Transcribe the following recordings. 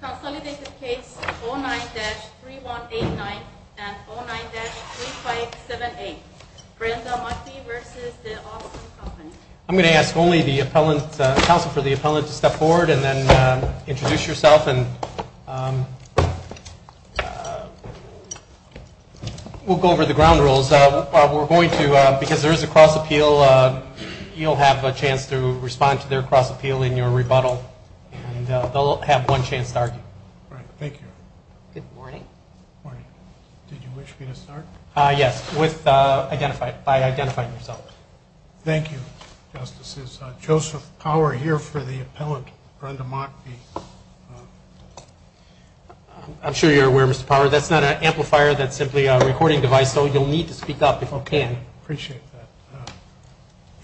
I'm going to ask only the appellant, counsel, for the appellant to step forward and then introduce yourself and we'll go over the ground rules. We're going to, because there's a cross appeal, you'll have a chance to respond to their cross appeal in your rebuttal and they'll have one chance to argue. Thank you. Joseph Power here for the appellant, Brenda Mockbee. I'm sure you're aware, Mr. Power, that's not an amplifier, that's simply a recording device, so you'll need to speak up if you can. I appreciate that.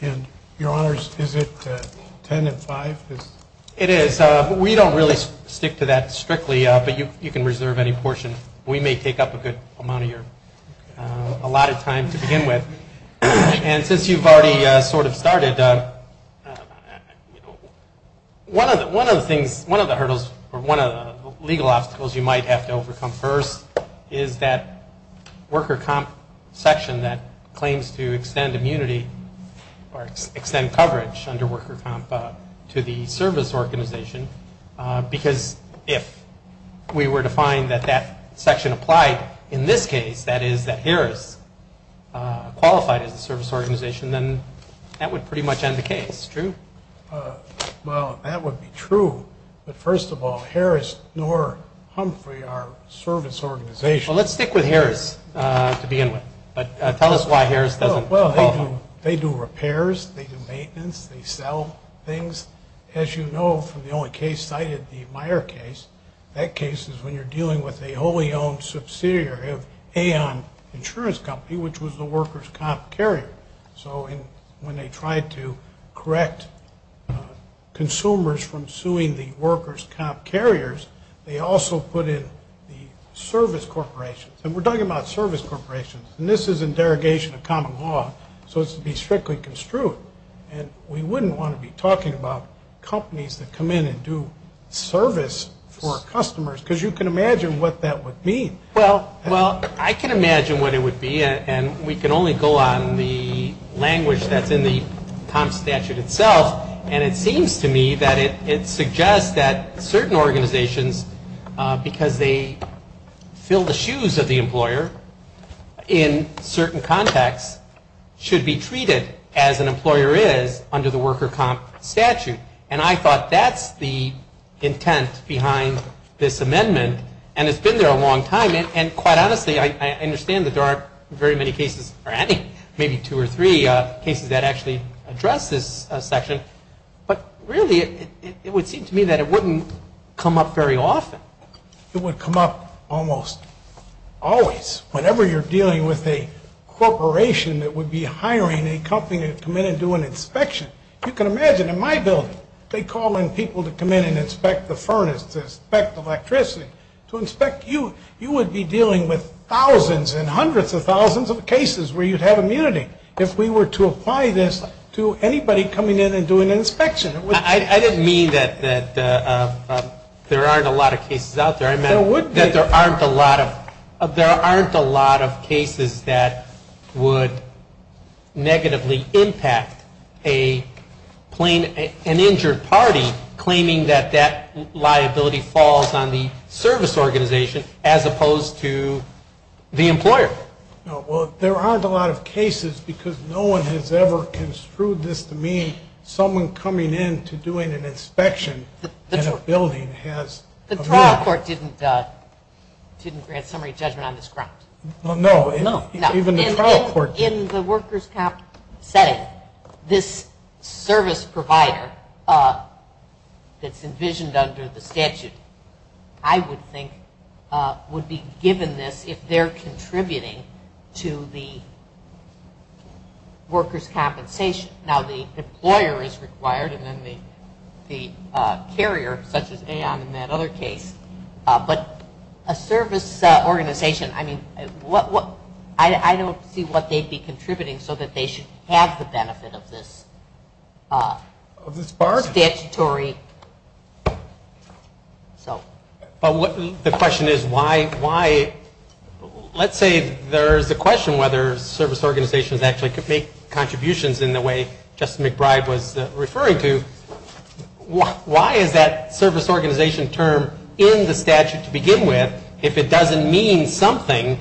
And your honors, is it 10 at 5? It is, but we don't really stick to that strictly, but you can reserve any portion. We may take up a good amount of your, a lot of time to begin with. And since you've already sort of started, one of the things, one of the hurdles, or one of the legal obstacles you might have to overcome first is that worker comp section that claims to extend immunity, or extend coverage under worker comp to the service organization, because if we were to find that that section applied in this case, that is, that Harris qualified as a service organization, then that would pretty much end the case. True? Well, that would be true, but first of all, Harris nor Humphrey are service organizations. Well, let's stick with Harris to begin with, but tell us why Harris doesn't qualify. Well, they do repairs, they do maintenance, they sell things. As you know from the only case cited, the Meyer case, that case is when you're dealing with a wholly owned subsidiary of Aon Insurance Company, which was the workers comp carriers, they also put in the service corporations. And we're talking about service corporations, and this is in derogation of common law, so it's to be strictly construed. And we wouldn't want to be talking about companies that come in and do service for customers, because you can imagine what that would mean. Well, I can imagine what it would be, and we can only go on the language that's in the comp statute itself, and it seems to me that it suggests that certain organizations, because they fill the shoes of the employer in certain contexts, should be treated as an employer is under the worker comp statute. And I thought that's the intent behind this amendment, and it's been there a long time. And quite honestly, I understand that there aren't very many cases, or maybe two or three cases that actually address this section, but really it would seem to me that it wouldn't come up very often. It would come up almost always. Whenever you're dealing with a corporation that would be hiring a company to come in and do an inspection, you can imagine in my building, they call in people to come in and inspect the furnace, to inspect electricity, to inspect you. You would be dealing with thousands and hundreds of thousands of cases where you'd have immunity if we were to apply this to anybody coming in and doing an inspection. I didn't mean that there aren't a lot of cases out there. I meant that there aren't a lot of cases that would negatively impact an injured party claiming that that liability falls on the service organization as opposed to the employer. No, well, there aren't a lot of cases because no one has ever construed this to mean someone coming in to doing an inspection in a building has immunity. The trial court didn't grant summary judgment on this ground. No, even the trial court didn't. In the workers' comp setting, this service provider that's envisioned under the statute, I would think, would be given this if they're contributing to the workers' compensation. Now, the employer is required and then the carrier, such as AON in that other case, but a service organization, I mean, I don't see what they should be contributing so that they should have the benefit of this statutory. But the question is why, let's say there's a question whether service organizations actually could make contributions in the way Justice McBride was referring to, why is that service organization term in the statute to begin with if it doesn't mean something?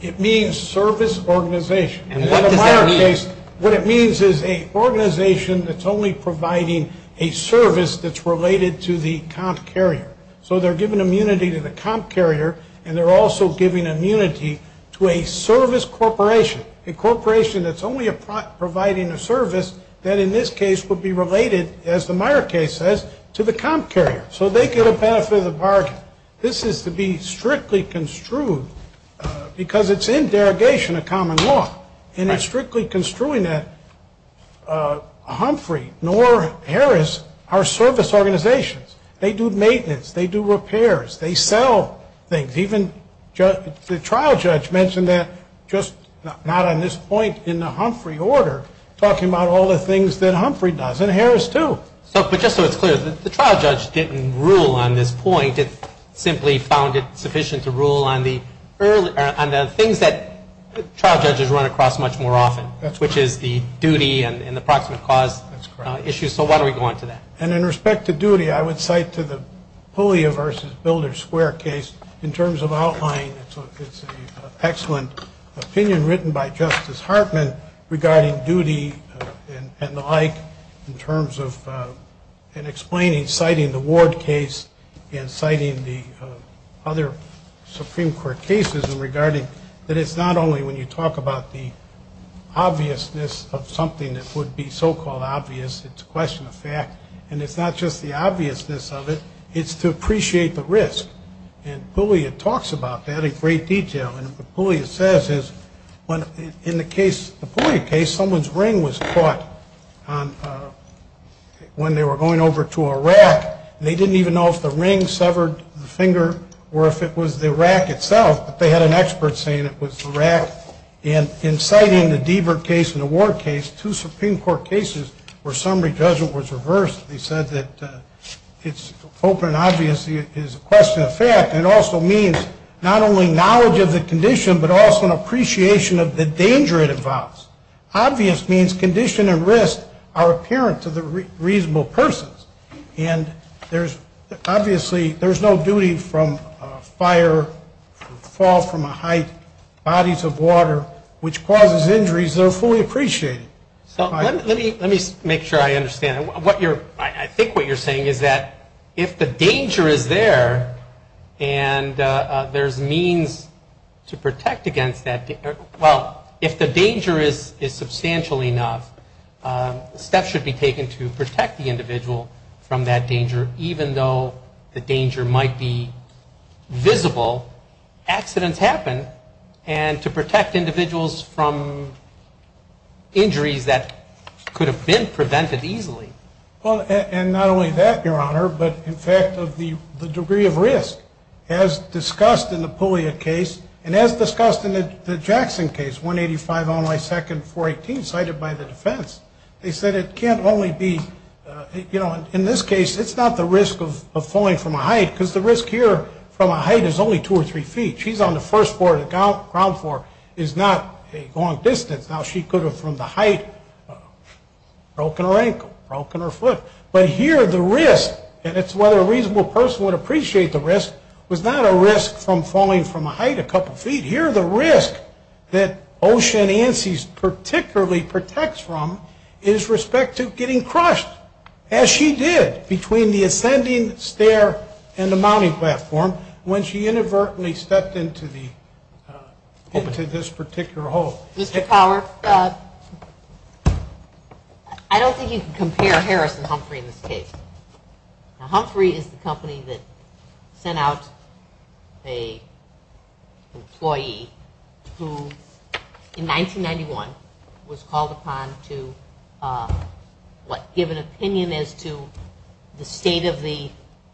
It means service organization. In the Meyer case, what it means is an organization that's only providing a service that's related to the comp carrier. So they're giving immunity to the comp carrier and they're also giving immunity to a service corporation, a corporation that's only providing a service that in this case would be related, as the Meyer case says, to the comp carrier. So they get a benefit of the bargain. But this is to be strictly construed because it's in derogation of common law. And it's strictly construing that Humphrey nor Harris are service organizations. They do maintenance. They do repairs. They sell things. Even the trial judge mentioned that just not on this point in the Humphrey order, talking about all the things that Humphrey does and Harris too. But just so it's clear, the trial judge didn't rule on this point. It simply found it sufficient to rule on the things that trial judges run across much more often, which is the duty and the proximate cause issue. So why don't we go on to that? And in respect to duty, I would cite to the Pulia versus Builder Square case in terms of outlying. It's an excellent opinion written by Justice Hartman regarding duty and the like in terms of explaining, citing the Ward case and citing the other Supreme Court cases in regarding that it's not only when you talk about the obviousness of something that would be so-called obvious, it's a question of fact. And it's not just the obviousness of it. It's to appreciate the risk. And Pulia talks about that in great detail. And what Pulia says is, in the Pulia case, someone's ring was caught when they were going over to a rack, and they didn't even know if the ring severed the finger or if it was the rack itself, but they had an expert saying it was the rack. And in citing the Deaver case and the Ward case, two Supreme Court cases where summary judgment was reversed, they said that it's open, obvious, it's a question of fact, and it also means not only knowledge of the condition, but also an appreciation of the danger it involves. Obvious means condition and risk are apparent to the reasonable persons. And there's obviously, there's no duty from fire, fall from a height, bodies of water, which causes injuries that are fully appreciated. So let me make sure I understand. What you're, I think what you're saying is that if the danger is there, and there's means to protect against that, well, if the danger is substantial enough, steps should be taken to protect the individual from that danger, even though the danger might be visible, accidents happen, and to protect individuals from injuries that could have been prevented easily. Well, and not only that, Your Honor, but in fact of the degree of risk, as discussed in the Puglia case, and as discussed in the Jackson case, 185 on my second, 418, cited by the defense, they said it can't only be, you know, in this case, it's not the risk of falling from a height, because the risk here from a height is only two or three feet. She's on the first floor of the ground floor, is not a long distance. Now, she could have, from the height, broken her ankle, broken her foot. But here the risk, and it's whether a reasonable person would appreciate the risk, was not a risk from falling from a height a couple feet. Here the risk that Ocean Ansys particularly protects from is respect to getting crushed, as she did between the ascending stair and the mounting platform when she inadvertently stepped into this particular hole. Mr. Power, I don't think you can compare Harris and Humphrey in this case. Now, Humphrey is the company that sent out an employee who, in 1991, was called upon to, what, give an opinion as to the state of the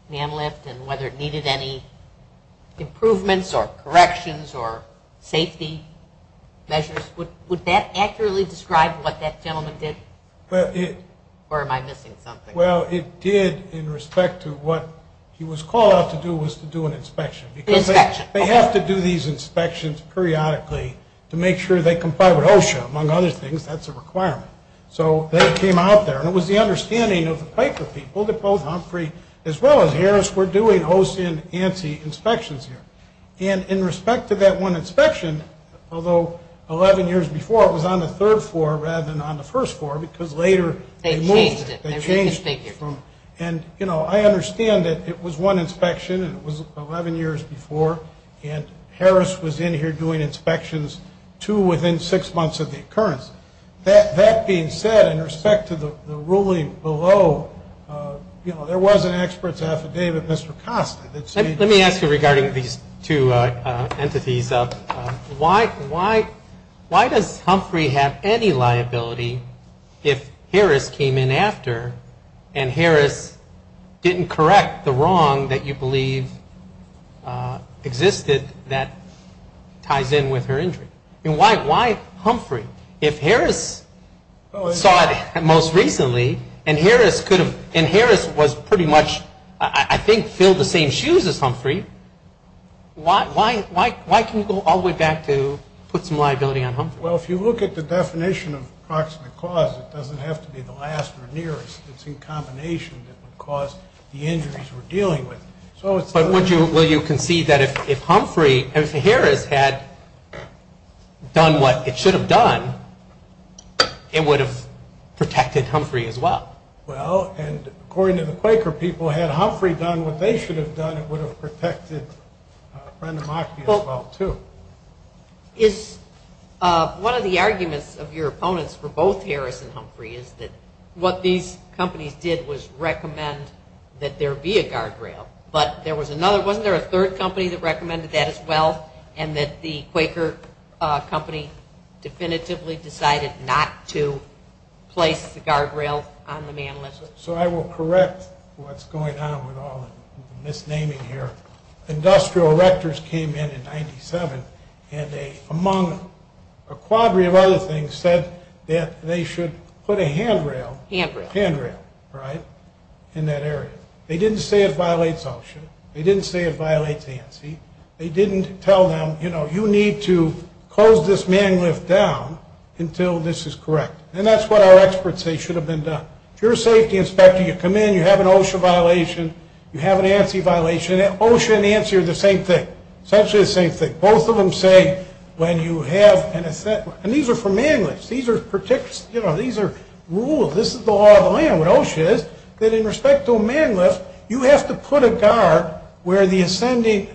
man lift and whether it needed any improvements or corrections or safety measures. Would that accurately describe what that gentleman did, or am I missing something? Well, it did in respect to what he was called out to do was to do an inspection, because they have to do these inspections periodically to make sure they comply with OSHA. Among other things, that's a requirement. So they came out there, and it was the understanding of the Piper people that both Humphrey as well as Harris were doing Ocean Ansys inspections here. And in respect to that one inspection, although 11 years before it was on the third floor rather than on the first floor, because later they moved it. They changed it. They changed it. And, you know, I understand that it was one inspection, and it was 11 years before, and Harris was in here doing inspections, too, within six months of the occurrence. That being said, in respect to the ruling below, you know, there was an expert's affidavit, Mr. Costa. Let me ask you regarding these two entities. Why does Humphrey have any liability if Harris came in after, and Harris didn't correct the wrong that you believe existed that ties in with her injury? I mean, why Humphrey? If Harris saw it most recently, and Harris was pretty much, I think, filled the same shoes as Humphrey, why can you go all the way back to put some liability on Humphrey? Well, if you look at the definition of proximate cause, it doesn't have to be the last or nearest. It's in combination that would cause the injuries we're dealing with. But would you concede that if Humphrey, if Harris had done what it should have done, it would have protected Humphrey as well? Well, and according to the Quaker people, had Humphrey done what they should have done, it would have protected Brenda Mockney as well, too. One of the arguments of your opponents for both Harris and Humphrey is that what these companies did was recommend that there be a guardrail. But there was another, wasn't there a third company that recommended that as well, and that the Quaker company definitively decided not to place the guardrail on the man listed? So I will correct what's going on with all the misnaming here. Industrial Rectors came in in 97, and they, among a quadrillion other things, said that they should put a handrail in that area. They didn't say it violates OSHA. They didn't say it violates ANSI. They didn't tell them, you know, you need to close this man lift down until this is correct. And that's what our experts say should have been done. If you're a safety inspector, you come in, you have an OSHA violation, you have an ANSI violation, and OSHA and ANSI are the same thing, essentially the same thing. Both of them say when you have an, and these are for man lifts. These are, you know, these are rules. This is the law of the land. What OSHA is, that in respect to a man lift, you have to put a guard where the ascending,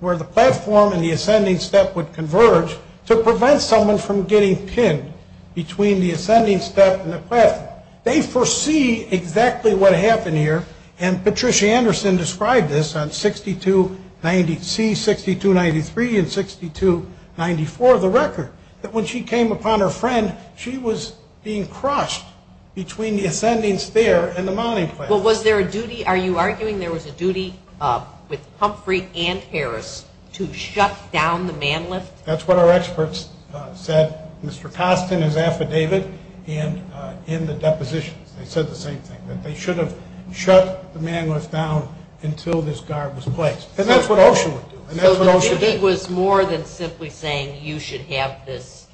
where the platform and the ascending step would converge to prevent someone from getting pinned between the ascending step and the platform. They foresee exactly what happened here. And Patricia Anderson described this on 6290C, 6293, and 6294, the record, that when she came upon her friend, she was being crushed between the ascending stair and the mounting platform. Well, was there a duty, are you arguing there was a duty with Humphrey and Harris to shut down the man lift? That's what our experts said. Mr. Costin, his affidavit, and in the depositions, they said the same thing, that they should have shut the man lift down until this guard was placed. And that's what OSHA would do. And that's what OSHA did. So the duty was more than simply saying you should have this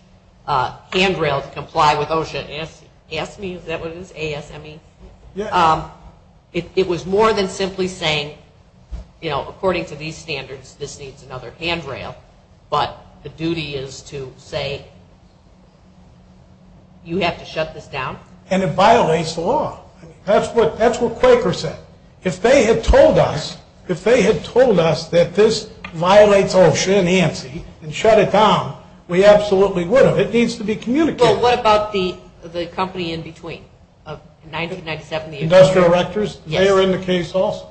handrail to comply with OSHA, ASME, is that what it is, A-S-M-E? Yeah. It was more than simply saying, you know, according to these standards, this needs another handrail, but the duty is to say you have to shut this down? And it violates the law. That's what Quaker said. If they had told us, if they had told us that this violates OSHA and ANSI and shut it down, we absolutely would have. It needs to be communicated. Well, what about the company in between, 1997? Industrial Rectors? Yes. They are in the case also.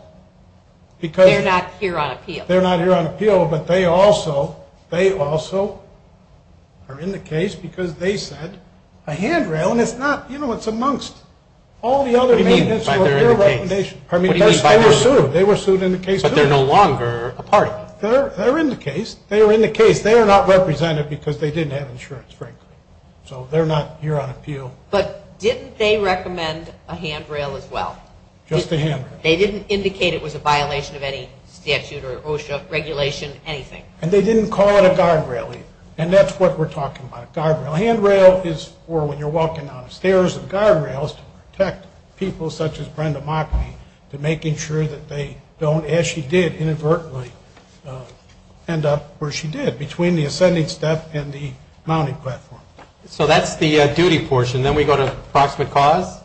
They're not here on appeal. They're not here on appeal, but they also, they also are in the case because they said a handrail, and it's not, you know, it's amongst all the other maintenance or other recommendations. What do you mean by they're in the case? I mean, they were sued. They were sued in the case too. But they're no longer a party. They're in the case. They were in the case. They are not represented because they didn't have insurance, frankly. So they're not here on appeal. But didn't they recommend a handrail as well? Just a handrail. They didn't indicate it was a violation of any statute or OSHA regulation, anything? And they didn't call it a guardrail either. And that's what we're talking about, a guardrail. A handrail is for when you're walking down the stairs. A guardrail is to protect people such as Brenda Mockney to making sure that they don't, as she did inadvertently, end up where she did, between the ascending step and the mounting platform. So that's the duty portion. Then we go to approximate cause?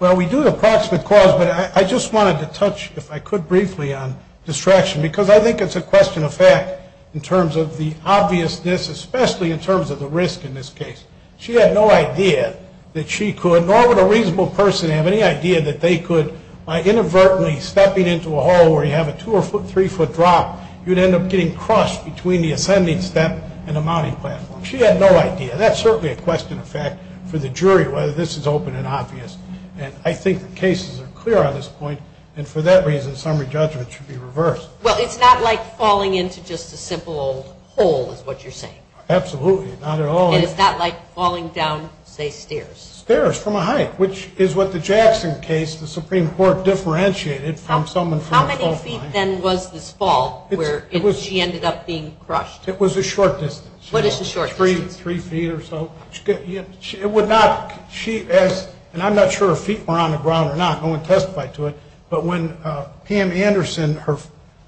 Well, we do the approximate cause, but I just wanted to touch, if I could briefly, on distraction because I think it's a question of fact in terms of the obviousness, especially in terms of the risk in this case. She had no idea that she could, nor would a reasonable person have any idea that they could, by inadvertently stepping into a hole where you have a two- or three-foot drop, you'd end up getting crushed between the ascending step and the mounting platform. She had no idea. That's certainly a question of fact for the jury, whether this is open and obvious. And I think the cases are clear on this point. And for that reason, summary judgment should be reversed. Well, it's not like falling into just a simple hole is what you're saying. Absolutely. Not at all. And it's not like falling down, say, stairs. Stairs from a height, which is what the Jackson case, the Supreme Court differentiated from someone from a fall line. How many feet, then, was this fall where she ended up being crushed? It was a short distance. What is a short distance? Three feet or so. It would not, she asked, and I'm not sure if her feet were on the ground or not, no one testified to it, but when Pam Anderson,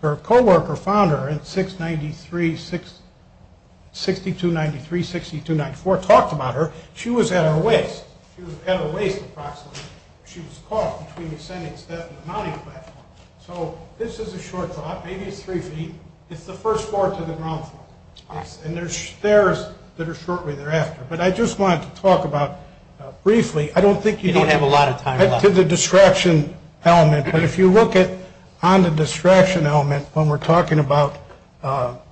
her co-worker, found her in 693, 6293, 6294, talked about her, she was at her waist. She was at her waist approximately. She was caught between the ascending step and the mounting platform. So this is a short drop, maybe it's three feet. It's the first floor to the ground floor. And there's stairs that are shortly thereafter. But I just wanted to talk about, briefly, I don't think you know. You don't have a lot of time. To the distraction element. But if you look at, on the distraction element, when we're talking about at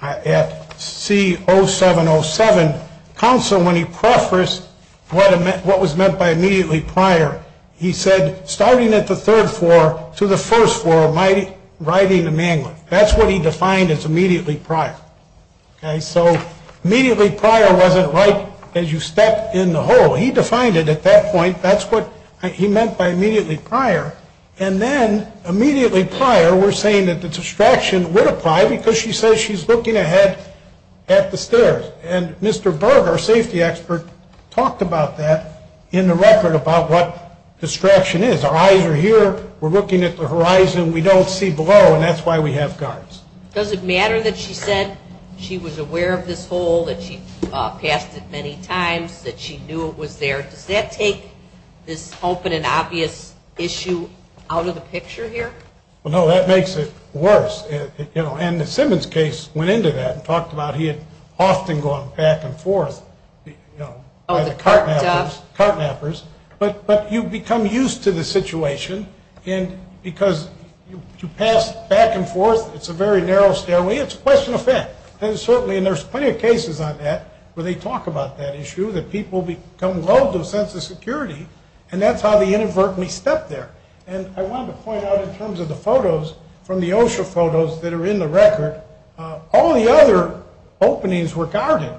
C0707, counsel, when he prefaced what was meant by immediately prior, he said, starting at the third floor to the first floor, riding the mangling. That's what he defined as immediately prior. So immediately prior wasn't like as you step in the hole. He defined it at that point. That's what he meant by immediately prior. And then, immediately prior, we're saying that the distraction would apply because she says she's looking ahead at the stairs. And Mr. Berg, our safety expert, talked about that in the record about what distraction is. Our eyes are here. We're looking at the horizon. We don't see below. And that's why we have guards. Does it matter that she said she was aware of this hole, that she passed it many times, that she knew it was there? Does that take this open and obvious issue out of the picture here? No, that makes it worse. And the Simmons case went into that and talked about he had often gone back and forth. Oh, the cart mappers? Cart mappers. But you become used to the situation. And because you pass back and forth, it's a very narrow stairway. It's a question of fact. And certainly, and there's plenty of cases on that where they talk about that issue, that people become lulled to a sense of security, and that's how they inadvertently step there. And I wanted to point out in terms of the photos from the OSHA photos that are in the record, all the other openings were guarded,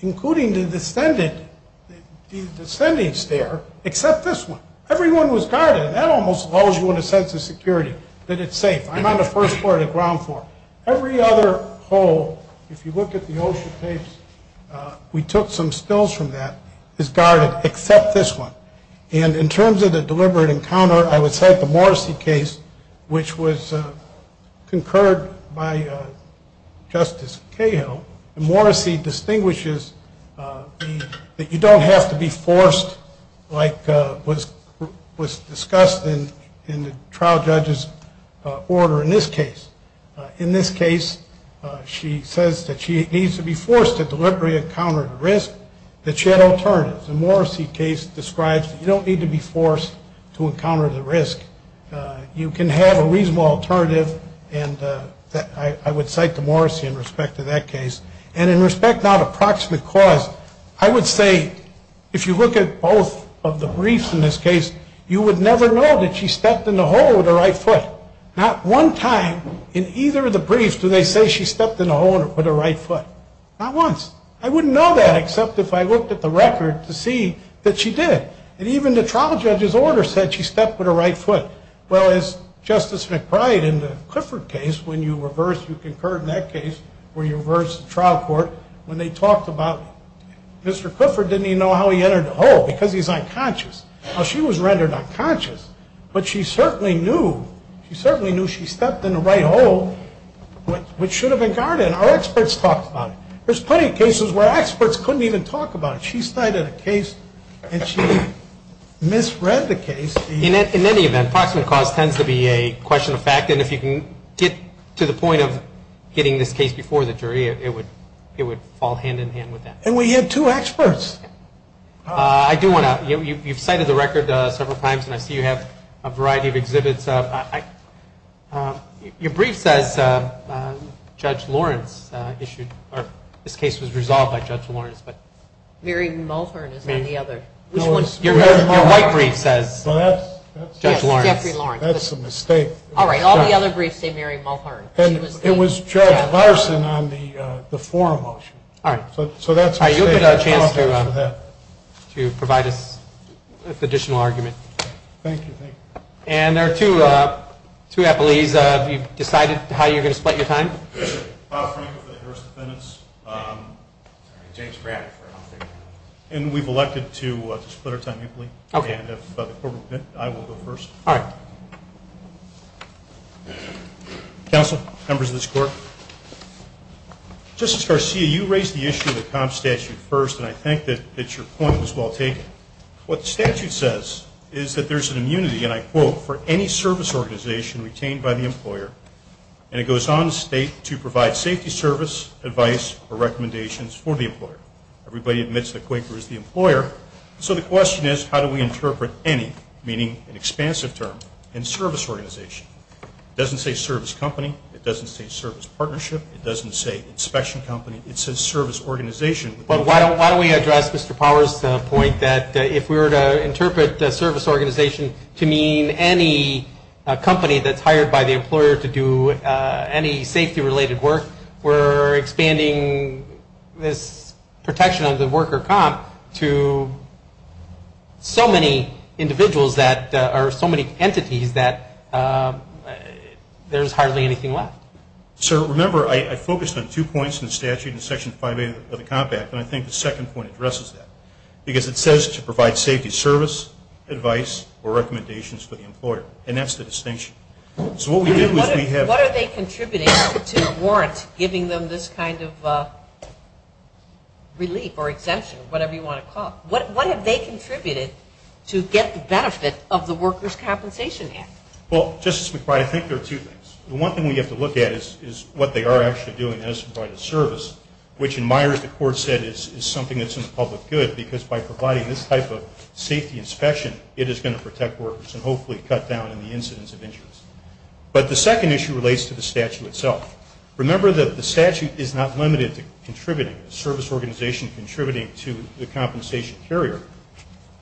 including the descendant, the descending stair, except this one. Everyone was guarded. That almost lulls you in a sense of security, that it's safe. I'm on the first floor of the ground floor. Every other hole, if you look at the OSHA tapes, we took some stills from that, is guarded except this one. And in terms of the deliberate encounter, I would cite the Morrissey case, which was concurred by Justice Cahill. Morrissey distinguishes that you don't have to be forced like was discussed in the trial judge's order in this case. In this case, she says that she needs to be forced to deliberately encounter the risk, that she had alternatives. The Morrissey case describes that you don't need to be forced to encounter the risk. You can have a reasonable alternative, and I would cite the Morrissey in respect to that case. And in respect now to proximate cause, I would say if you look at both of the briefs in this case, you would never know that she stepped in the hole with her right foot. Not one time in either of the briefs do they say she stepped in the hole with her right foot. Not once. I wouldn't know that except if I looked at the record to see that she did. And even the trial judge's order said she stepped with her right foot. Well, as Justice McBride in the Clifford case, when you reverse, you concurred in that case, where you reversed the trial court, when they talked about Mr. Clifford, didn't he know how he entered the hole? Because he's unconscious. Well, she was rendered unconscious, but she certainly knew she stepped in the right hole, which should have been guarded, and our experts talked about it. There's plenty of cases where experts couldn't even talk about it. She cited a case, and she misread the case. In any event, proximate cause tends to be a question of fact, and if you can get to the point of getting this case before the jury, it would fall hand-in-hand with that. And we have two experts. I do want to – you've cited the record several times, and I see you have a variety of exhibits. Your brief says Judge Lawrence issued – or this case was resolved by Judge Lawrence. Mary Mulhern is on the other. Your white brief says Judge Lawrence. Yes, Jeffrey Lawrence. That's a mistake. All right, all the other briefs say Mary Mulhern. It was Judge Larson on the forum motion, so that's a mistake. All right, you'll get a chance to provide us with an additional argument. Thank you. And there are two appelees. Have you decided how you're going to split your time? Bob Frank with the Harris Defendants. James Braddock. And we've elected to split our time, I believe. Okay. I will go first. All right. Counsel, members of this Court, Justice Garcia, you raised the issue of the comp statute first, and I think that your point was well taken. What the statute says is that there's an immunity, and I quote, for any service organization retained by the employer, and it goes on to state to provide safety service, advice, or recommendations for the employer. Everybody admits that Quaker is the employer. So the question is, how do we interpret any, meaning an expansive term, in service organization? It doesn't say service company. It doesn't say service partnership. It doesn't say inspection company. It says service organization. But why don't we address Mr. Powers' point that if we were to interpret the service organization to mean any company that's hired by the employer to do any safety-related work, we're expanding this protection of the worker comp to so many individuals that are so many entities that there's hardly anything left. So, remember, I focused on two points in the statute in Section 5A of the Comp Act, and I think the second point addresses that, because it says to provide safety service, advice, or recommendations for the employer, and that's the distinction. So what we do is we have- What are they contributing to a warrant giving them this kind of relief or exemption, whatever you want to call it? What have they contributed to get the benefit of the Workers' Compensation Act? Well, Justice McBride, I think there are two things. The one thing we have to look at is what they are actually doing as provided service, which in Myers the court said is something that's in the public good, because by providing this type of safety inspection, it is going to protect workers and hopefully cut down on the incidence of injuries. But the second issue relates to the statute itself. Remember that the statute is not limited to contributing, a service organization contributing to the compensation carrier.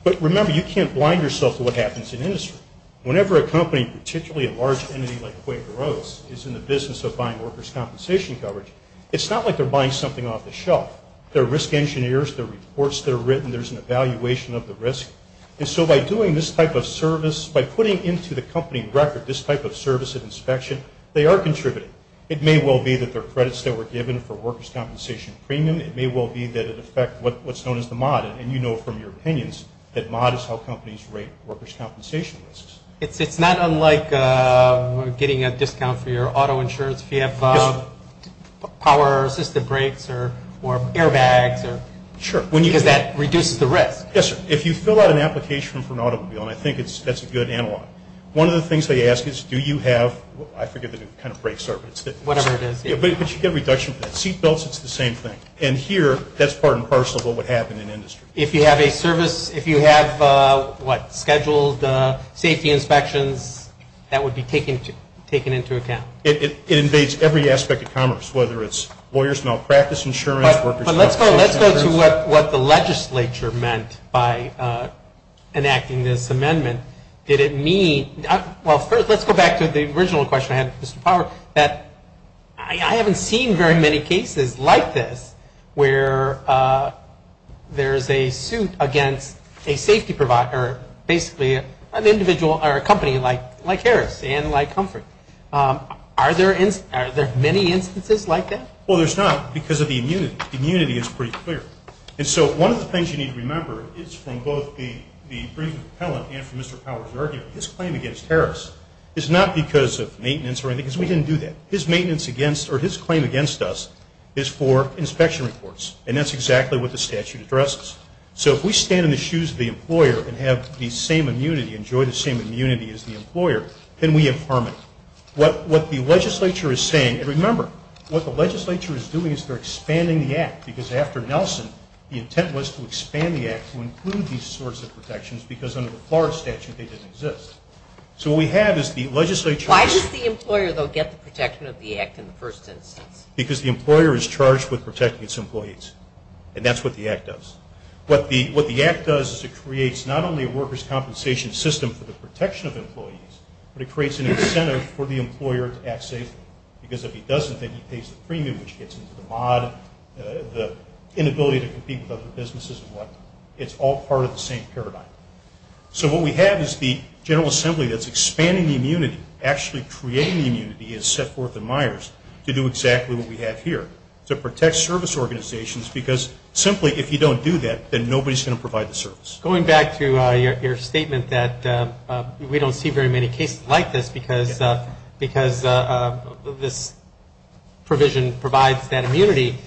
But remember, you can't blind yourself to what happens in industry. Whenever a company, particularly a large entity like Quaker Oats, is in the business of buying workers' compensation coverage, it's not like they're buying something off the shelf. There are risk engineers. There are reports that are written. There's an evaluation of the risk. And so by doing this type of service, by putting into the company record this type of service and inspection, they are contributing. It may well be that they're credits that were given for workers' compensation premium. It may well be that it affects what's known as the mod, and you know from your opinions that mod is how companies rate workers' compensation risks. It's not unlike getting a discount for your auto insurance if you have power or assistive brakes or airbags, because that reduces the risk. Yes, sir. If you fill out an application for an automobile, and I think that's a good analog, one of the things they ask is do you have, I forget what kind of brakes are, but you get a reduction for that. Seatbelts, it's the same thing. And here, that's part and parcel of what would happen in industry. If you have a service, if you have, what, scheduled safety inspections, that would be taken into account. It invades every aspect of commerce, whether it's lawyers' malpractice insurance, workers' compensation insurance. But let's go to what the legislature meant by enacting this amendment. Did it mean, well, first let's go back to the original question I had with Mr. Power, that I haven't seen very many cases like this where there's a suit against a safety provider, basically an individual or a company like Harris and like Comfort. Are there many instances like that? Well, there's not, because of the immunity. The immunity is pretty clear. And so one of the things you need to remember is from both the brief of appellant and from Mr. Power's argument, this claim against Harris is not because of maintenance or anything, because we didn't do that. His maintenance against, or his claim against us, is for inspection reports. And that's exactly what the statute addresses. So if we stand in the shoes of the employer and have the same immunity, enjoy the same immunity as the employer, then we have harmony. What the legislature is saying, and remember, what the legislature is doing is they're expanding the Act, because after Nelson, the intent was to expand the Act to include these sorts of protections, because under the Power statute, they didn't exist. So what we have is the legislature. Why does the employer, though, get the protection of the Act in the first instance? Because the employer is charged with protecting its employees. And that's what the Act does. What the Act does is it creates not only a workers' compensation system for the protection of employees, but it creates an incentive for the employer to act safely. Because if he doesn't, then he pays the premium, which gets him to the mod, the inability to compete with other businesses and whatnot. It's all part of the same paradigm. So what we have is the General Assembly that's expanding the immunity, actually creating the immunity as set forth in Myers to do exactly what we have here, to protect service organizations, because simply if you don't do that, then nobody's going to provide the service. Going back to your statement that we don't see very many cases like this, because this provision provides that immunity,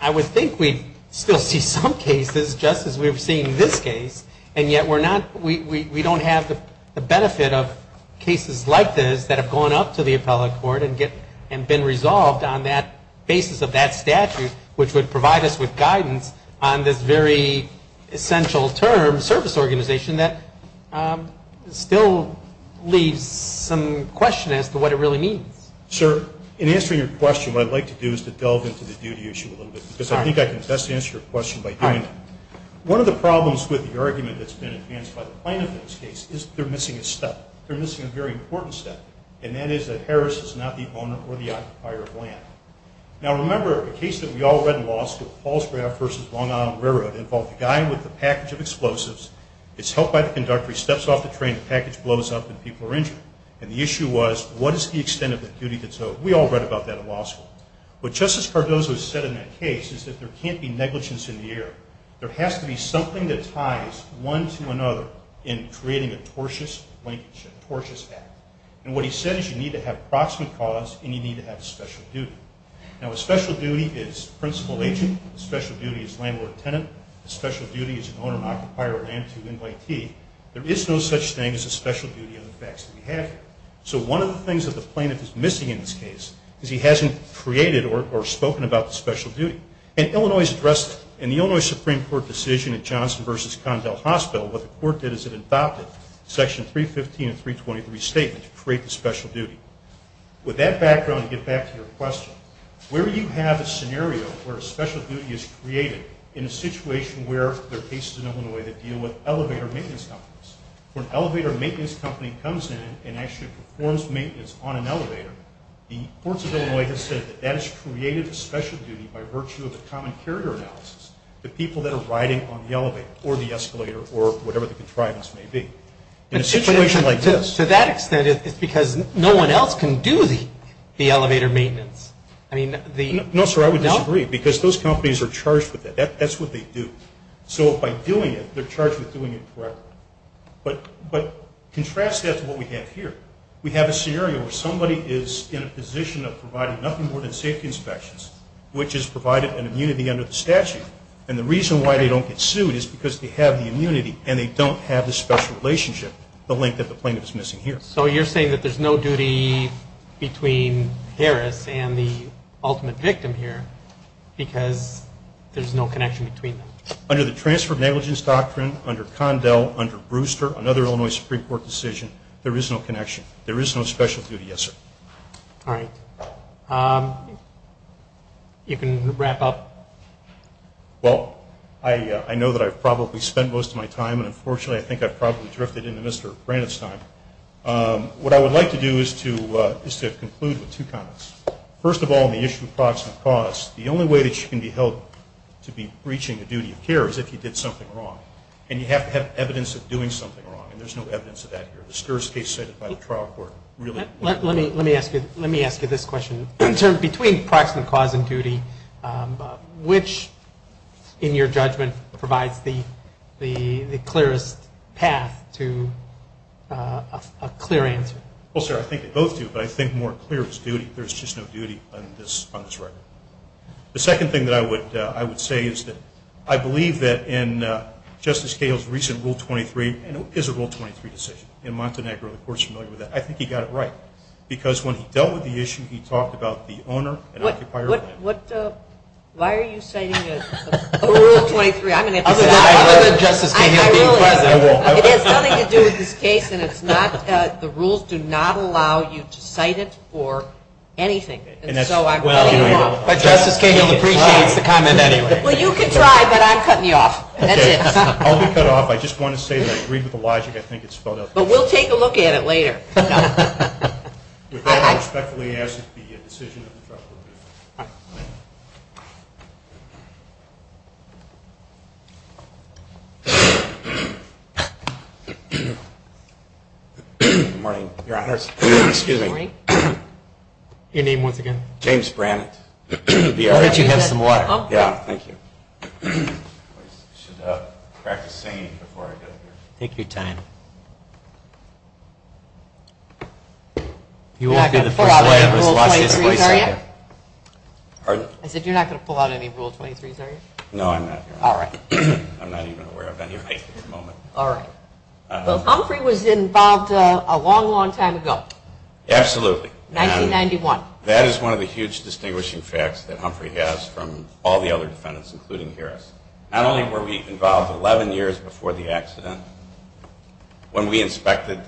I would think we'd still see some cases just as we've seen this case, and yet we're not, we don't have the benefit of cases like this that have gone up to the appellate court and been resolved on that basis of that statute, which would provide us with guidance on this very essential term, service organization, that still leaves some question as to what it really means. Sir, in answering your question, what I'd like to do is to delve into the duty issue a little bit, because I think I can best answer your question by doing so. One of the problems with the argument that's been advanced by the plaintiff in this case is that they're missing a step. They're missing a very important step, and that is that Harris is not the owner or the occupier of land. Now remember, a case that we all read in law school, Paul's Graft vs. Long Island Railroad, involved a guy with a package of explosives, is helped by the conductor, he steps off the train, the package blows up, and people are injured. And the issue was, what is the extent of the duty that's owed? We all read about that in law school. What Justice Cardozo said in that case is that there can't be negligence in the air. There has to be something that ties one to another in creating a tortious linkage, a tortious act. And what he said is you need to have proximate cause, and you need to have a special duty. Now a special duty is principal agent, a special duty is landlord-tenant, a special duty is an owner-occupier or land-to-invitee. There is no such thing as a special duty on the facts that we have here. So one of the things that the plaintiff is missing in this case is he hasn't created or spoken about the special duty. In the Illinois Supreme Court decision at Johnson vs. Condell Hospital, what the court did is it adopted Section 315 and 323 statements to create the special duty. With that background, to get back to your question, where do you have a scenario where a special duty is created in a situation where there are cases in Illinois that deal with elevator maintenance companies? When an elevator maintenance company comes in and actually performs maintenance on an elevator, the courts of Illinois have said that that has created a special duty by virtue of the common carrier analysis, the people that are riding on the elevator, or the escalator, or whatever the contrivance may be. In a situation like this... To that extent, it's because no one else can do the elevator maintenance. No sir, I would disagree, because those companies are charged with it. That's what they do. So by doing it, they're charged with doing it correctly. But contrast that to what we have here. We have a scenario where somebody is in a position of providing nothing more than safety inspections, which has provided an immunity under the statute. And the reason why they don't get sued is because they have the immunity and they don't have the special relationship, the link that the plaintiff is missing here. So you're saying that there's no duty between Harris and the ultimate victim here because there's no connection between them? Under the transfer of negligence doctrine, under Condell, under Brewster, another Illinois Supreme Court decision, there is no connection. There is no special duty, yes sir. Alright. You can wrap up. Well, I know that I've probably spent most of my time, and unfortunately I think I've probably drifted into Mr. Brannett's time. What I would like to do is to conclude with two comments. First of all, on the issue of proximate cause, the only way that you can be held to be breaching the duty of care is if you did something wrong. And you have to have evidence of doing something wrong. And there's no evidence of that here. Let me ask you this question. Between proximate cause and duty, which in your judgment provides the clearest path to a clear answer? Well sir, I think they both do, but I think more clear is duty. There's just no duty on this record. The second thing that I would say is that I believe that in Justice Cahill's recent Rule 23, and it is a Rule 23 decision, and Montenegro of course is familiar with that, I think he got it right. Because when he dealt with the issue, he talked about the owner and occupier. Why are you citing a Rule 23? Other than Justice Cahill being present. It has nothing to do with this case, and the rules do not allow you to cite it for anything. And so I'm cutting you off. But Justice Cahill appreciates the comment anyway. Well you can try, but I'm cutting you off. I'll be cut off. I just want to say that I agree with the logic. But we'll take a look at it later. With that, I respectfully ask that the decision of the trust be reviewed. Good morning, Your Honors. Excuse me. Your name once again? James Brannant. I thought you had some water. I should practice singing before I go. Take your time. You won't be the first to watch this voiceover. I said you're not going to pull out any Rule 23's are you? No, I'm not, Your Honor. I'm not even aware of any right at the moment. Humphrey was involved a long, long time ago. Absolutely. That is one of the huge distinguishing facts that Humphrey has from all the other defendants, including Harris. Not only were we involved 11 years before the accident, when we inspected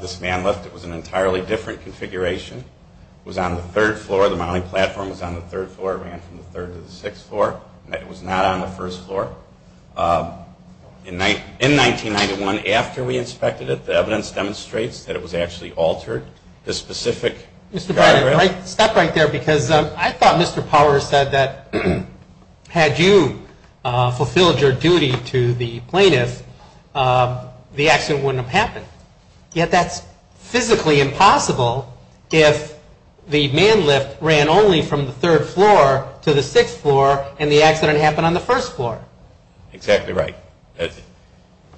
this man lift, it was an entirely different configuration. It was on the third floor. The mounting platform was on the third floor. It ran from the third to the sixth floor. It was not on the first floor. In 1991, after we inspected it, the evidence demonstrates that it was actually altered. This specific diagram. Mr. Brannant, stop right there. I thought Mr. Power said that had you fulfilled your duty to the plaintiff, the accident wouldn't have happened. Yet that's physically impossible if the man lift ran only from the third floor to the sixth floor and the accident happened on the first floor. Exactly right.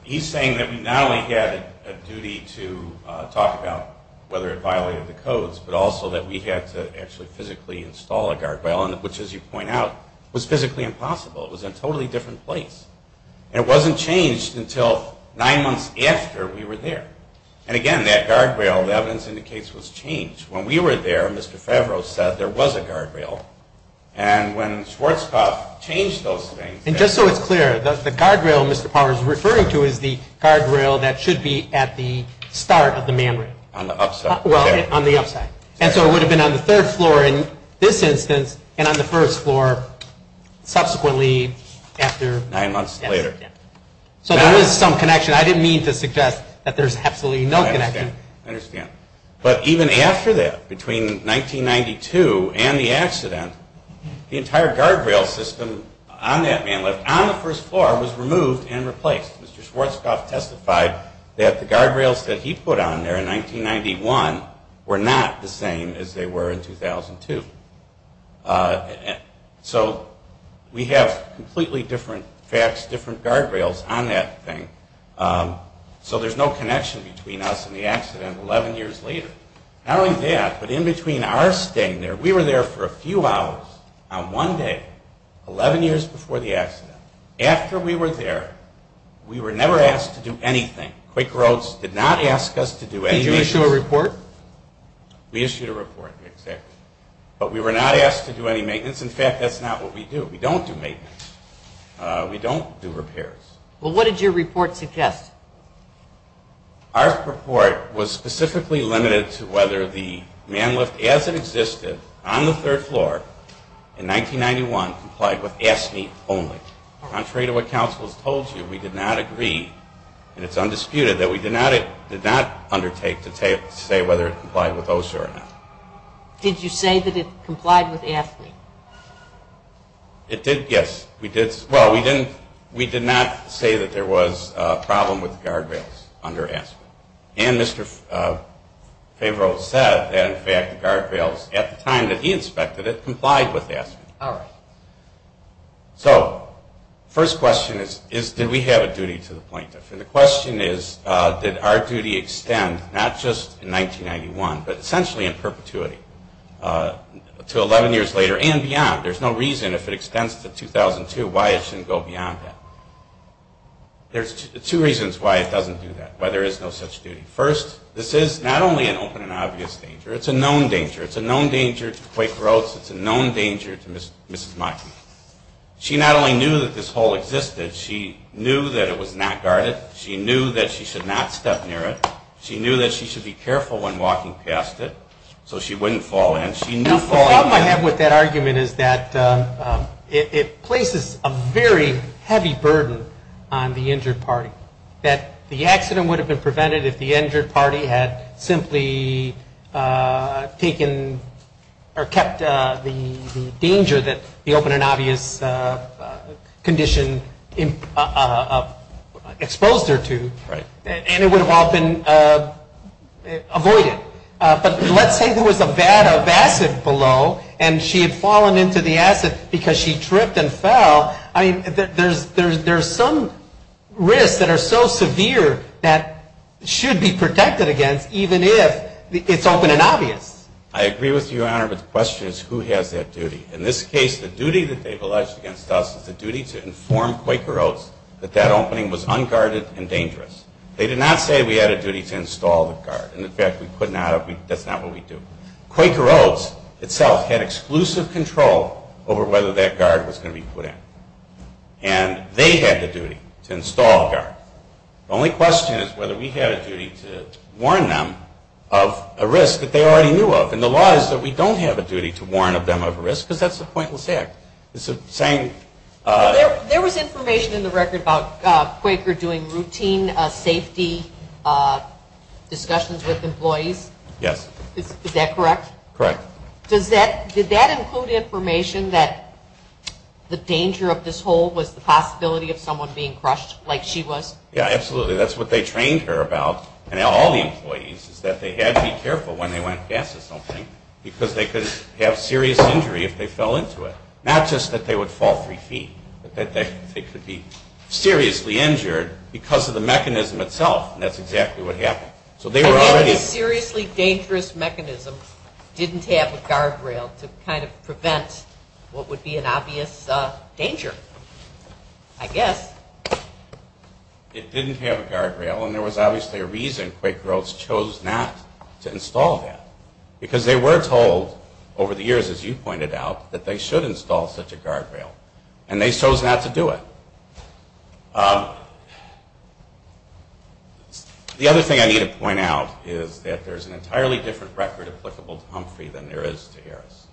He's saying that we not only had a duty to talk about whether it violated the codes, but also that we had to actually physically install a guardrail, which as you point out was physically impossible. It was in a totally different place. It wasn't changed until nine months after we were there. Again, that guardrail, the evidence indicates, was changed. When we were there, Mr. Favreau said there was a guardrail. When Schwarzkopf changed those things... Just so it's clear, the guardrail Mr. Power is referring to is the guardrail that should be at the start of the man lift. On the upside. It would have been on the third floor in this instance and on the first floor subsequently after the accident. Nine months later. So there is some connection. I didn't mean to suggest that there's absolutely no connection. I understand. But even after that, between 1992 and the accident, the entire guardrail system on that man lift on the first floor was removed and replaced. Mr. Schwarzkopf testified that the guardrails that he put on there in 1991 were not the same as they were in 2002. So we have completely different facts, different guardrails on that thing. So there's no connection between us and the accident 11 years later. Not only that, but in between our staying there, we were there for a few hours on one day, 11 years before the accident. After we were there, we were never asked to do anything. Quaker Oats did not ask us to do anything. Did you issue a report? We issued a report, exactly. But we were not asked to do any maintenance. In fact, that's not what we do. We don't do maintenance. We don't do repairs. Well, what did your report suggest? Our report was specifically limited to whether the man lift as it existed on the third floor in 1991 complied with AFSCME only. Contrary to what counsel has told you, we did not agree, and it's undisputed, that we did not undertake to say whether it complied with OSHA or not. Did you say that it complied with AFSCME? It did, yes. Well, we did not say that there was a problem with the guardrails under AFSCME. And Mr. Favreau said that, in fact, the guardrails, at the time that he inspected it, complied with AFSCME. So, first question is, did we have a duty to the plaintiff? And the question is, did our duty extend, not just in 1991, but essentially in perpetuity to 11 years later and beyond? There's no reason, if it extends to 2002, why it shouldn't go beyond that. There's two reasons why it doesn't do that, why there is no such duty. First, this is not only an open and obvious danger, it's a known danger. It's a known danger to Quaker Oats, it's a known danger to Mrs. Maki. She not only knew that this hole existed, she knew that it was not guarded, she knew that she should not step near it, she knew that she should be careful when walking past it, so she wouldn't fall in. The problem I have with that argument is that it places a very heavy burden on the injured party, that the accident would have been prevented if the injured party had simply kept the danger that the open and obvious condition exposed her to. And it would have all been avoided. But let's say there was a vat of acid below and she had fallen into the acid because she tripped and fell, there's some risks that are so severe that should be protected against even if it's open and obvious. I agree with you, Your Honor, but the question is who has that duty? In this case, the duty that they've alleged against us is the duty to inform Quaker Oats that that opening was unguarded and dangerous. They did not say we had a duty to install the guard. In fact, that's not what we do. Quaker Oats itself had exclusive control over whether that guard was going to be put in. And they had the duty to install a guard. The only question is whether we had a duty to warn them of a risk that they already knew of. And the law is that we don't have a duty to warn them of a risk because that's a pointless act. There was information in the record about Quaker doing routine safety discussions with employees. Is that correct? Correct. Did that include information that the danger of this hole was the possibility of someone being crushed like she was? Yeah, absolutely. That's what they trained her about and all the employees is that they had to be careful when they went past this opening because they could have serious injury if they fell into it. Not just that they would fall 3 feet, but that they could be seriously injured because of the mechanism itself. And that's exactly what happened. A seriously dangerous mechanism didn't have a guardrail to prevent what would be an obvious danger. I guess. It didn't have a guardrail and there was obviously a reason Quaker Oats chose not to install that. Because they were told over the years, as you pointed out, that they should install such a guardrail. And they chose not to do it. The other thing I need to point out is that there's an entirely different record applicable to Humphrey than there is to Harris.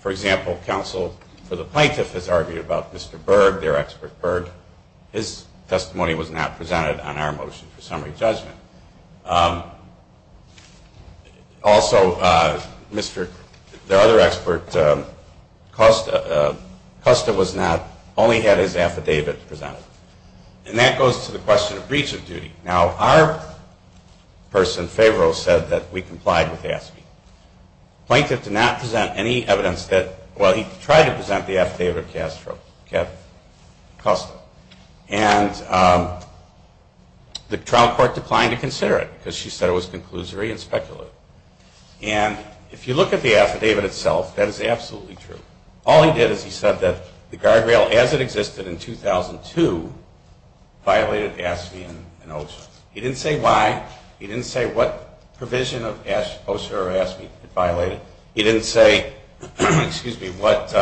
For example, counsel for the plaintiff has argued about Mr. Berg, their expert Berg. His testimony was not presented on our motion for summary judgment. Also, their other expert, Custa was not, only had his affidavit presented. And that goes to the question of breach of duty. Now, our person, Favreau, said that we complied with AFSCME. Plaintiff did not present any evidence that, well, he tried to present the affidavit of Custa. And the trial court declined to consider it because she said it was conclusory and speculative. And if you look at the affidavit itself, that is absolutely true. All he did is he said that the guardrail, as it existed in 2002, violated AFSCME and OSHA. He didn't say why. He didn't say what provision of OSHA or AFSCME it violated. He didn't say, excuse me, what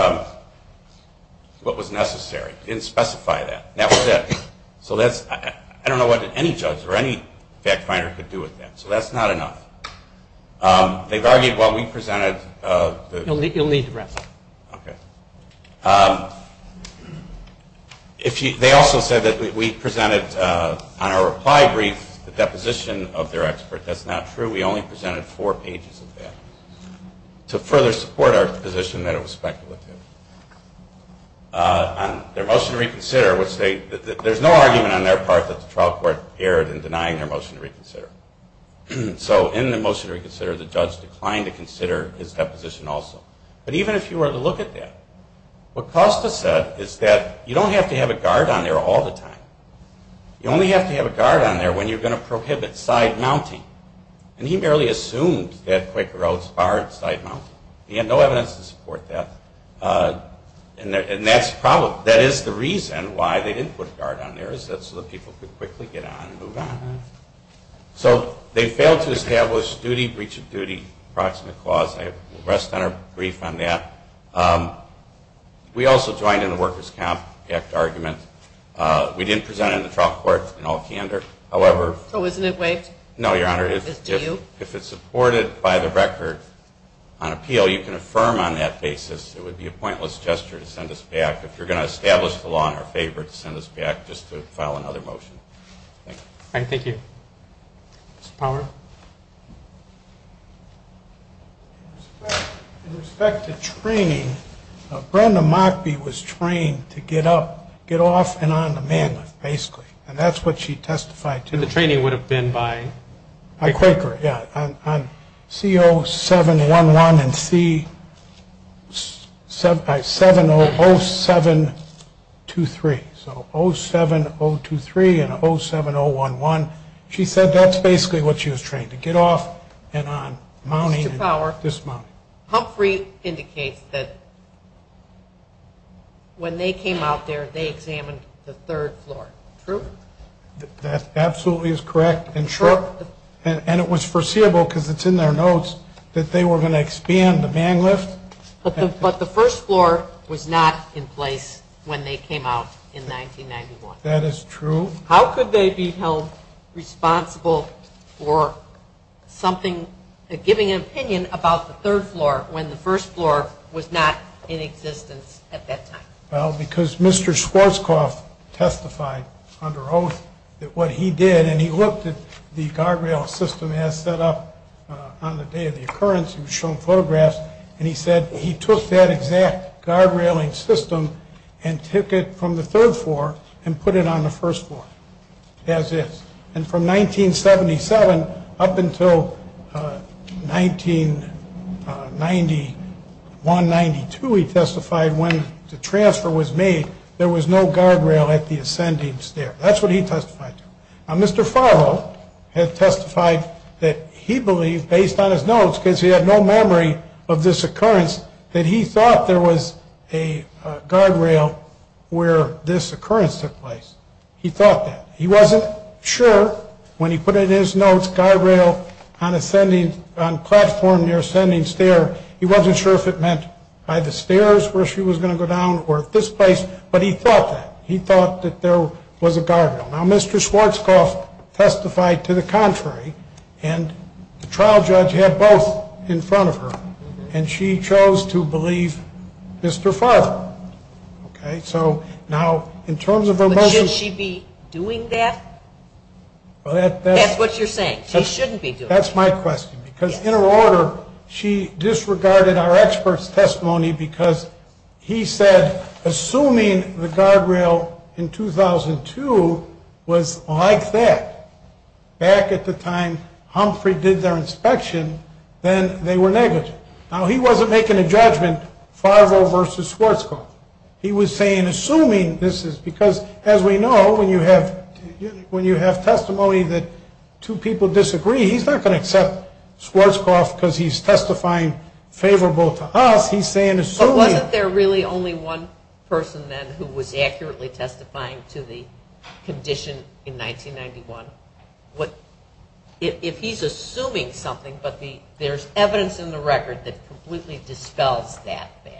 was necessary. He didn't specify that. And that was it. So that's, I don't know what any judge or any fact finder could do with that. So that's not enough. They've argued while we presented... They also said that we presented on our reply brief the deposition of their expert. That's not true. We only presented four pages of that to further support our position that it was speculative. Their motion to reconsider would state that there's no argument on their part that the trial court erred in denying their motion to reconsider. So in the motion to reconsider, the judge declined to consider his deposition also. But even if you were to look at that, what Custa said is that you don't have to have a guard on there all the time. You only have to have a guard on there when you're going to prohibit side mounting. And he merely assumed that Quaker Oats barred side mounting. He had no evidence to support that. And that's the problem. That is the reason why they didn't put a guard on there is that so that people could quickly get on and move on. So they failed to establish duty, breach of duty, approximate clause. I rest on our brief on that. We also joined in the Workers' Comp Act argument. We didn't present it in the trial court in all candor. So isn't it waived? No, Your Honor. If it's supported by the record on appeal, you can affirm on that basis. It would be a pointless gesture to send us back if you're going to establish the law in our favor to send us back just to file another motion. Thank you. In respect to training, Brenda Mockbee was trained to get off and on the man lift, basically. And that's what she testified to. And the training would have been by Quaker? By Quaker, yeah. On C0711 and C0723. So 07023 and 07011. She said that's basically what she was trained. To get off and on mounting. Mr. Power, Humphrey indicates that when they came out there, they examined the third floor. True? That absolutely is correct. And it was foreseeable, because it's in their notes, that they were going to expand the man lift. But the first floor was not in place when they came out in 1991. That is true. How could they become responsible for giving an opinion about the third floor when the first floor was not in existence at that time? Well, because Mr. Schwarzkopf testified under oath that what he did, and he looked at the guardrail system as set up on the day of the occurrence, he was shown photographs, and he said he took that exact guardrailing system and took it from the third floor and put it on the first floor. As is. And from 1977 up until 1991-92 he testified when the transfer was made there was no guardrail at the ascending stair. That's what he testified to. Mr. Farlow testified that he believed, based on his notes, because he had no memory of this occurrence, that he thought there was a guardrail where this occurrence took place. He thought that. He wasn't sure when he put in his notes guardrail on platform near ascending stair he wasn't sure if it meant either stairs where she was going to go down or this place, but he thought that. Now Mr. Schwarzkopf testified to the contrary and the trial judge had both in front of her and she chose to believe Mr. Farlow. But shouldn't she be doing that? That's what you're saying. She shouldn't be doing that. That's my question. Because in her order she disregarded our expert's testimony because he said assuming the guardrail in 2002 was like that back at the time Humphrey did their inspection then they were negative. Now he wasn't making a judgment, Farlow versus Schwarzkopf. He was saying assuming this is because as we know when you have testimony that two people disagree he's not going to accept Schwarzkopf because he's testifying favorable to us he's saying assuming. Wasn't there really only one person then who was accurately testifying to the condition in 1991? If he's assuming something but there's evidence in the record that completely dispels that fact.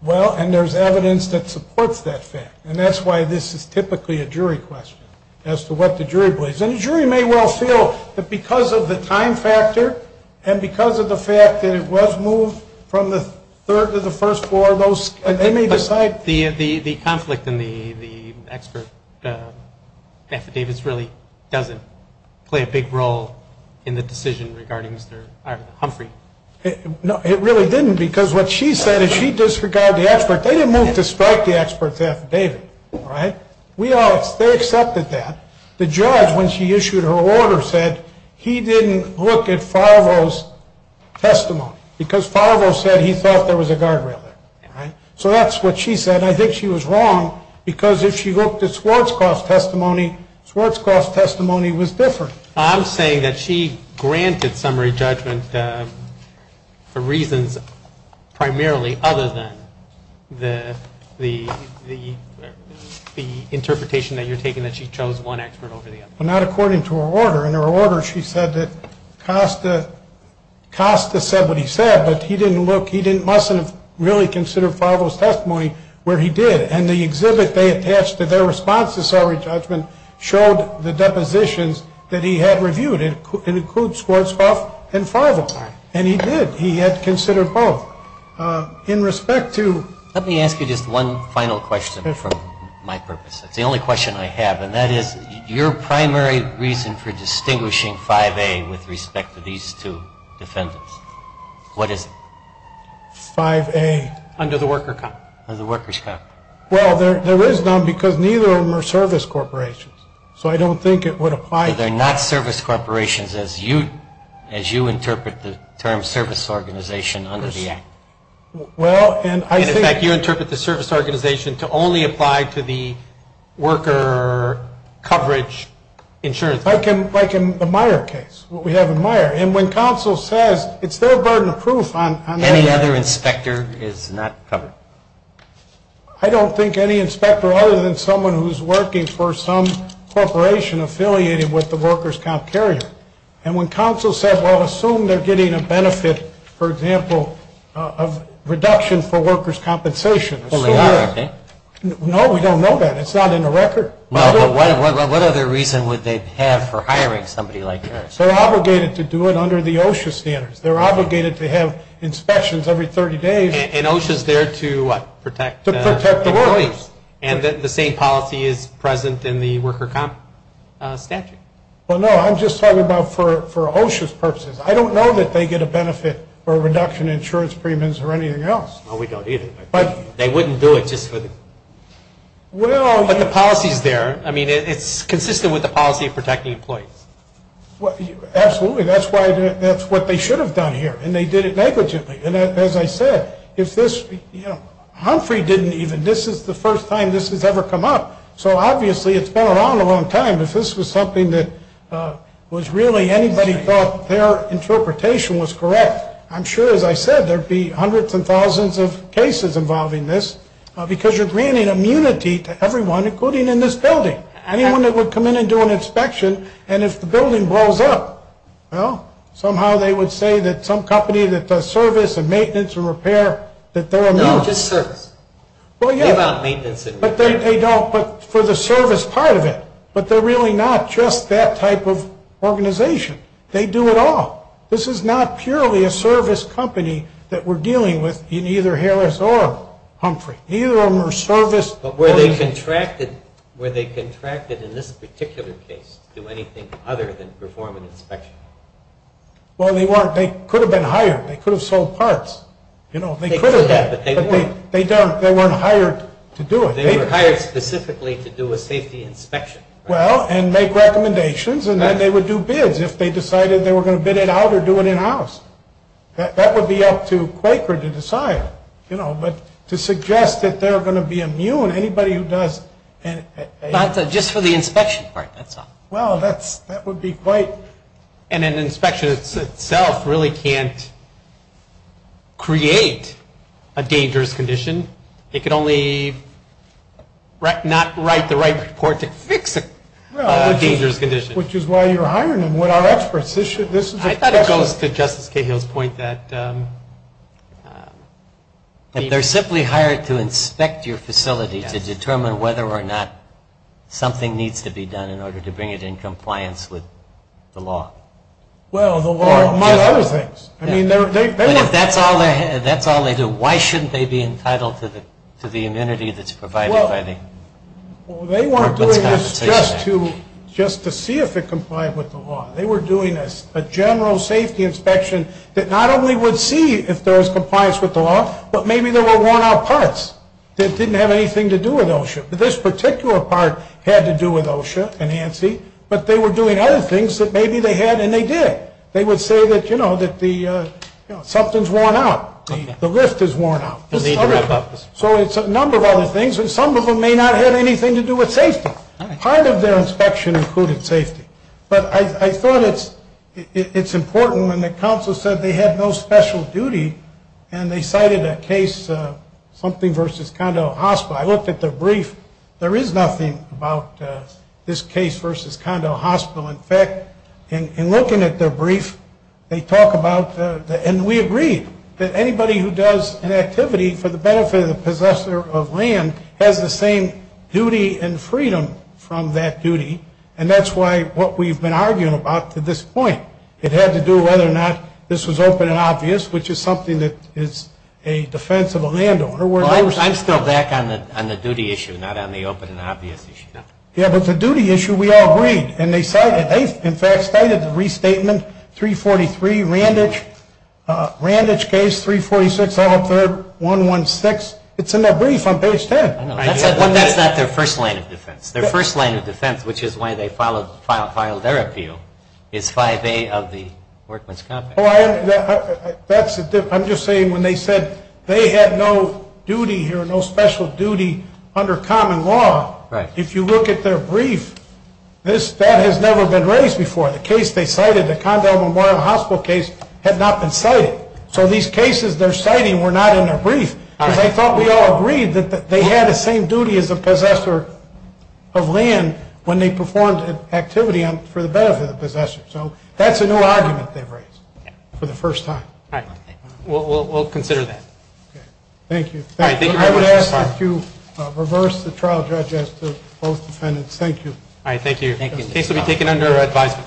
Well and there's evidence that supports that fact and that's why this is typically a jury question as to what the jury believes. And the jury may well feel that because of the time factor and because of the fact that it was moved from the 3rd to the 1st floor But the conflict in the expert affidavits really doesn't play a big role in the decision regarding Humphrey. It really didn't because what she said is she disregarded the expert they didn't move to strike the expert's affidavit. They accepted that. The judge when she issued her order said he didn't look at Favreau's testimony because Favreau said he thought there was a guardrail there. So that's what she said and I think she was wrong because if she looked at Schwarzkopf's testimony Schwarzkopf's testimony was different. I'm saying that she granted summary judgment for reasons primarily other than the interpretation that you're taking that she chose one expert over the other. Well not according to her order. In her order she said that Costa said what he said but he didn't look he mustn't have really considered Favreau's testimony where he did. And the exhibit they attached to their response to summary judgment showed the depositions that he had reviewed. It includes Schwarzkopf and Favreau. And he did. He had considered both. Let me ask you just one final question for my purpose. It's the only question I have and that is your primary reason for distinguishing 5A with respect to these two defendants. What is it? 5A. Under the workers' comp. Well there is none because neither of them are service corporations. So I don't think it would apply. They're not service corporations as you interpret the term service organization under the act. In fact you interpret the service organization to only apply to the worker coverage insurance. Like in the Meyer case. What we have in Meyer. And when counsel says it's their burden of proof on that. Any other inspector is not covered. I don't think any inspector other than someone who's working for some corporation affiliated with the workers' comp carrier. And when counsel says well assume they're getting a benefit for example of reduction for workers' compensation. No we don't know that. It's not in the record. What other reason would they have for hiring somebody like that? They're obligated to do it under the OSHA standards. They're obligated to have inspections every 30 days. And OSHA's there to what? Protect the employees. And the same policy is present in the worker comp statute. Well no I'm just talking about for OSHA's purposes. I don't know that they get a benefit for a reduction in insurance premiums or anything else. Well we don't either. They wouldn't do it just for the... But the policy's there. I mean it's consistent with the policy of protecting employees. Absolutely. That's what they should have done here. And they did it negligently. And as I said if this... Humphrey didn't even... This is the first time this has ever come up. So obviously it's been around a long time. If this was something that was really anybody thought their interpretation was correct I'm sure as I said there'd be hundreds and thousands of cases involving this. Because you're granting immunity to everyone including in this building. Anyone that would come in and do an inspection. And if the building blows up, well somehow they would say that some company that does service and maintenance and repair that they're immune. No just service. They don't, but for the service part of it. But they're really not just that type of organization. They do it all. This is not purely a service company that we're dealing with in either Harris or Humphrey. Either of them are service... But were they contracted in this particular case to do anything other than perform an inspection? Well they weren't. They could have been hired. They could have sold parts. They could have. But they weren't. They weren't hired to do it. They were hired specifically to do a safety inspection. Well and make recommendations and then they would do bids if they decided they were going to bid it out or do it in house. That would be up to Quaker to decide. But to suggest that they're going to be immune anybody who does... Not just for the inspection part. Well that would be quite... And an inspection itself really can't create a dangerous condition. It could only... not write the right report to fix a dangerous condition. Which is why you're hiring them. I thought it goes to Justice Cahill's point that... They're simply hired to inspect your facility to determine whether or not something needs to be done in order to bring it in compliance with the law. Well the law... Among other things. But if that's all they do, why shouldn't they be entitled to the immunity that's provided by the... Well they weren't doing this just to see if it complied with the law. They were doing a general safety inspection that not only would see if there was compliance with the law, but maybe there were worn out parts that didn't have anything to do with OSHA. But this particular part had to do with OSHA and ANSI. But they were doing other things that maybe they had and they did. They would say that something's worn out. The lift is worn out. So it's a number of other things and some of them may not have anything to do with safety. Part of their inspection included safety. But I thought it's important when the counsel said they had no special duty and they cited a case, something versus Condell Hospital. I looked at their brief. There is nothing about this case versus Condell Hospital. In fact, in looking at their brief, they talk about... And we agreed that anybody who does an activity for the benefit of the possessor of land has the same duty and freedom from that duty. And that's why what we've been arguing about to this point. It had to do whether or not this was open and obvious, which is something that is a defense of a landowner. Well, I'm still back on the duty issue, not on the open and obvious issue. Yeah, but the duty issue, we all agreed. And they cited, they in fact cited the restatement 343, Randage. Randage case 346, 103, 116. It's in their brief on page 10. That's not their first line of defense. Their first line of defense, which is why they have the workman's compact. I'm just saying when they said they had no duty here, no special duty under common law, if you look at their brief, that has never been raised before. The case they cited, the Condell Memorial Hospital case, had not been cited. So these cases they're citing were not in their brief. I thought we all agreed that they had the same duty as a possessor of land when they performed activity for the benefit of the possessor. So that's a new argument they've raised for the first time. We'll consider that. Thank you. I would ask that you reverse the trial judge as to both defendants. Thank you. The case will be taken under advisement.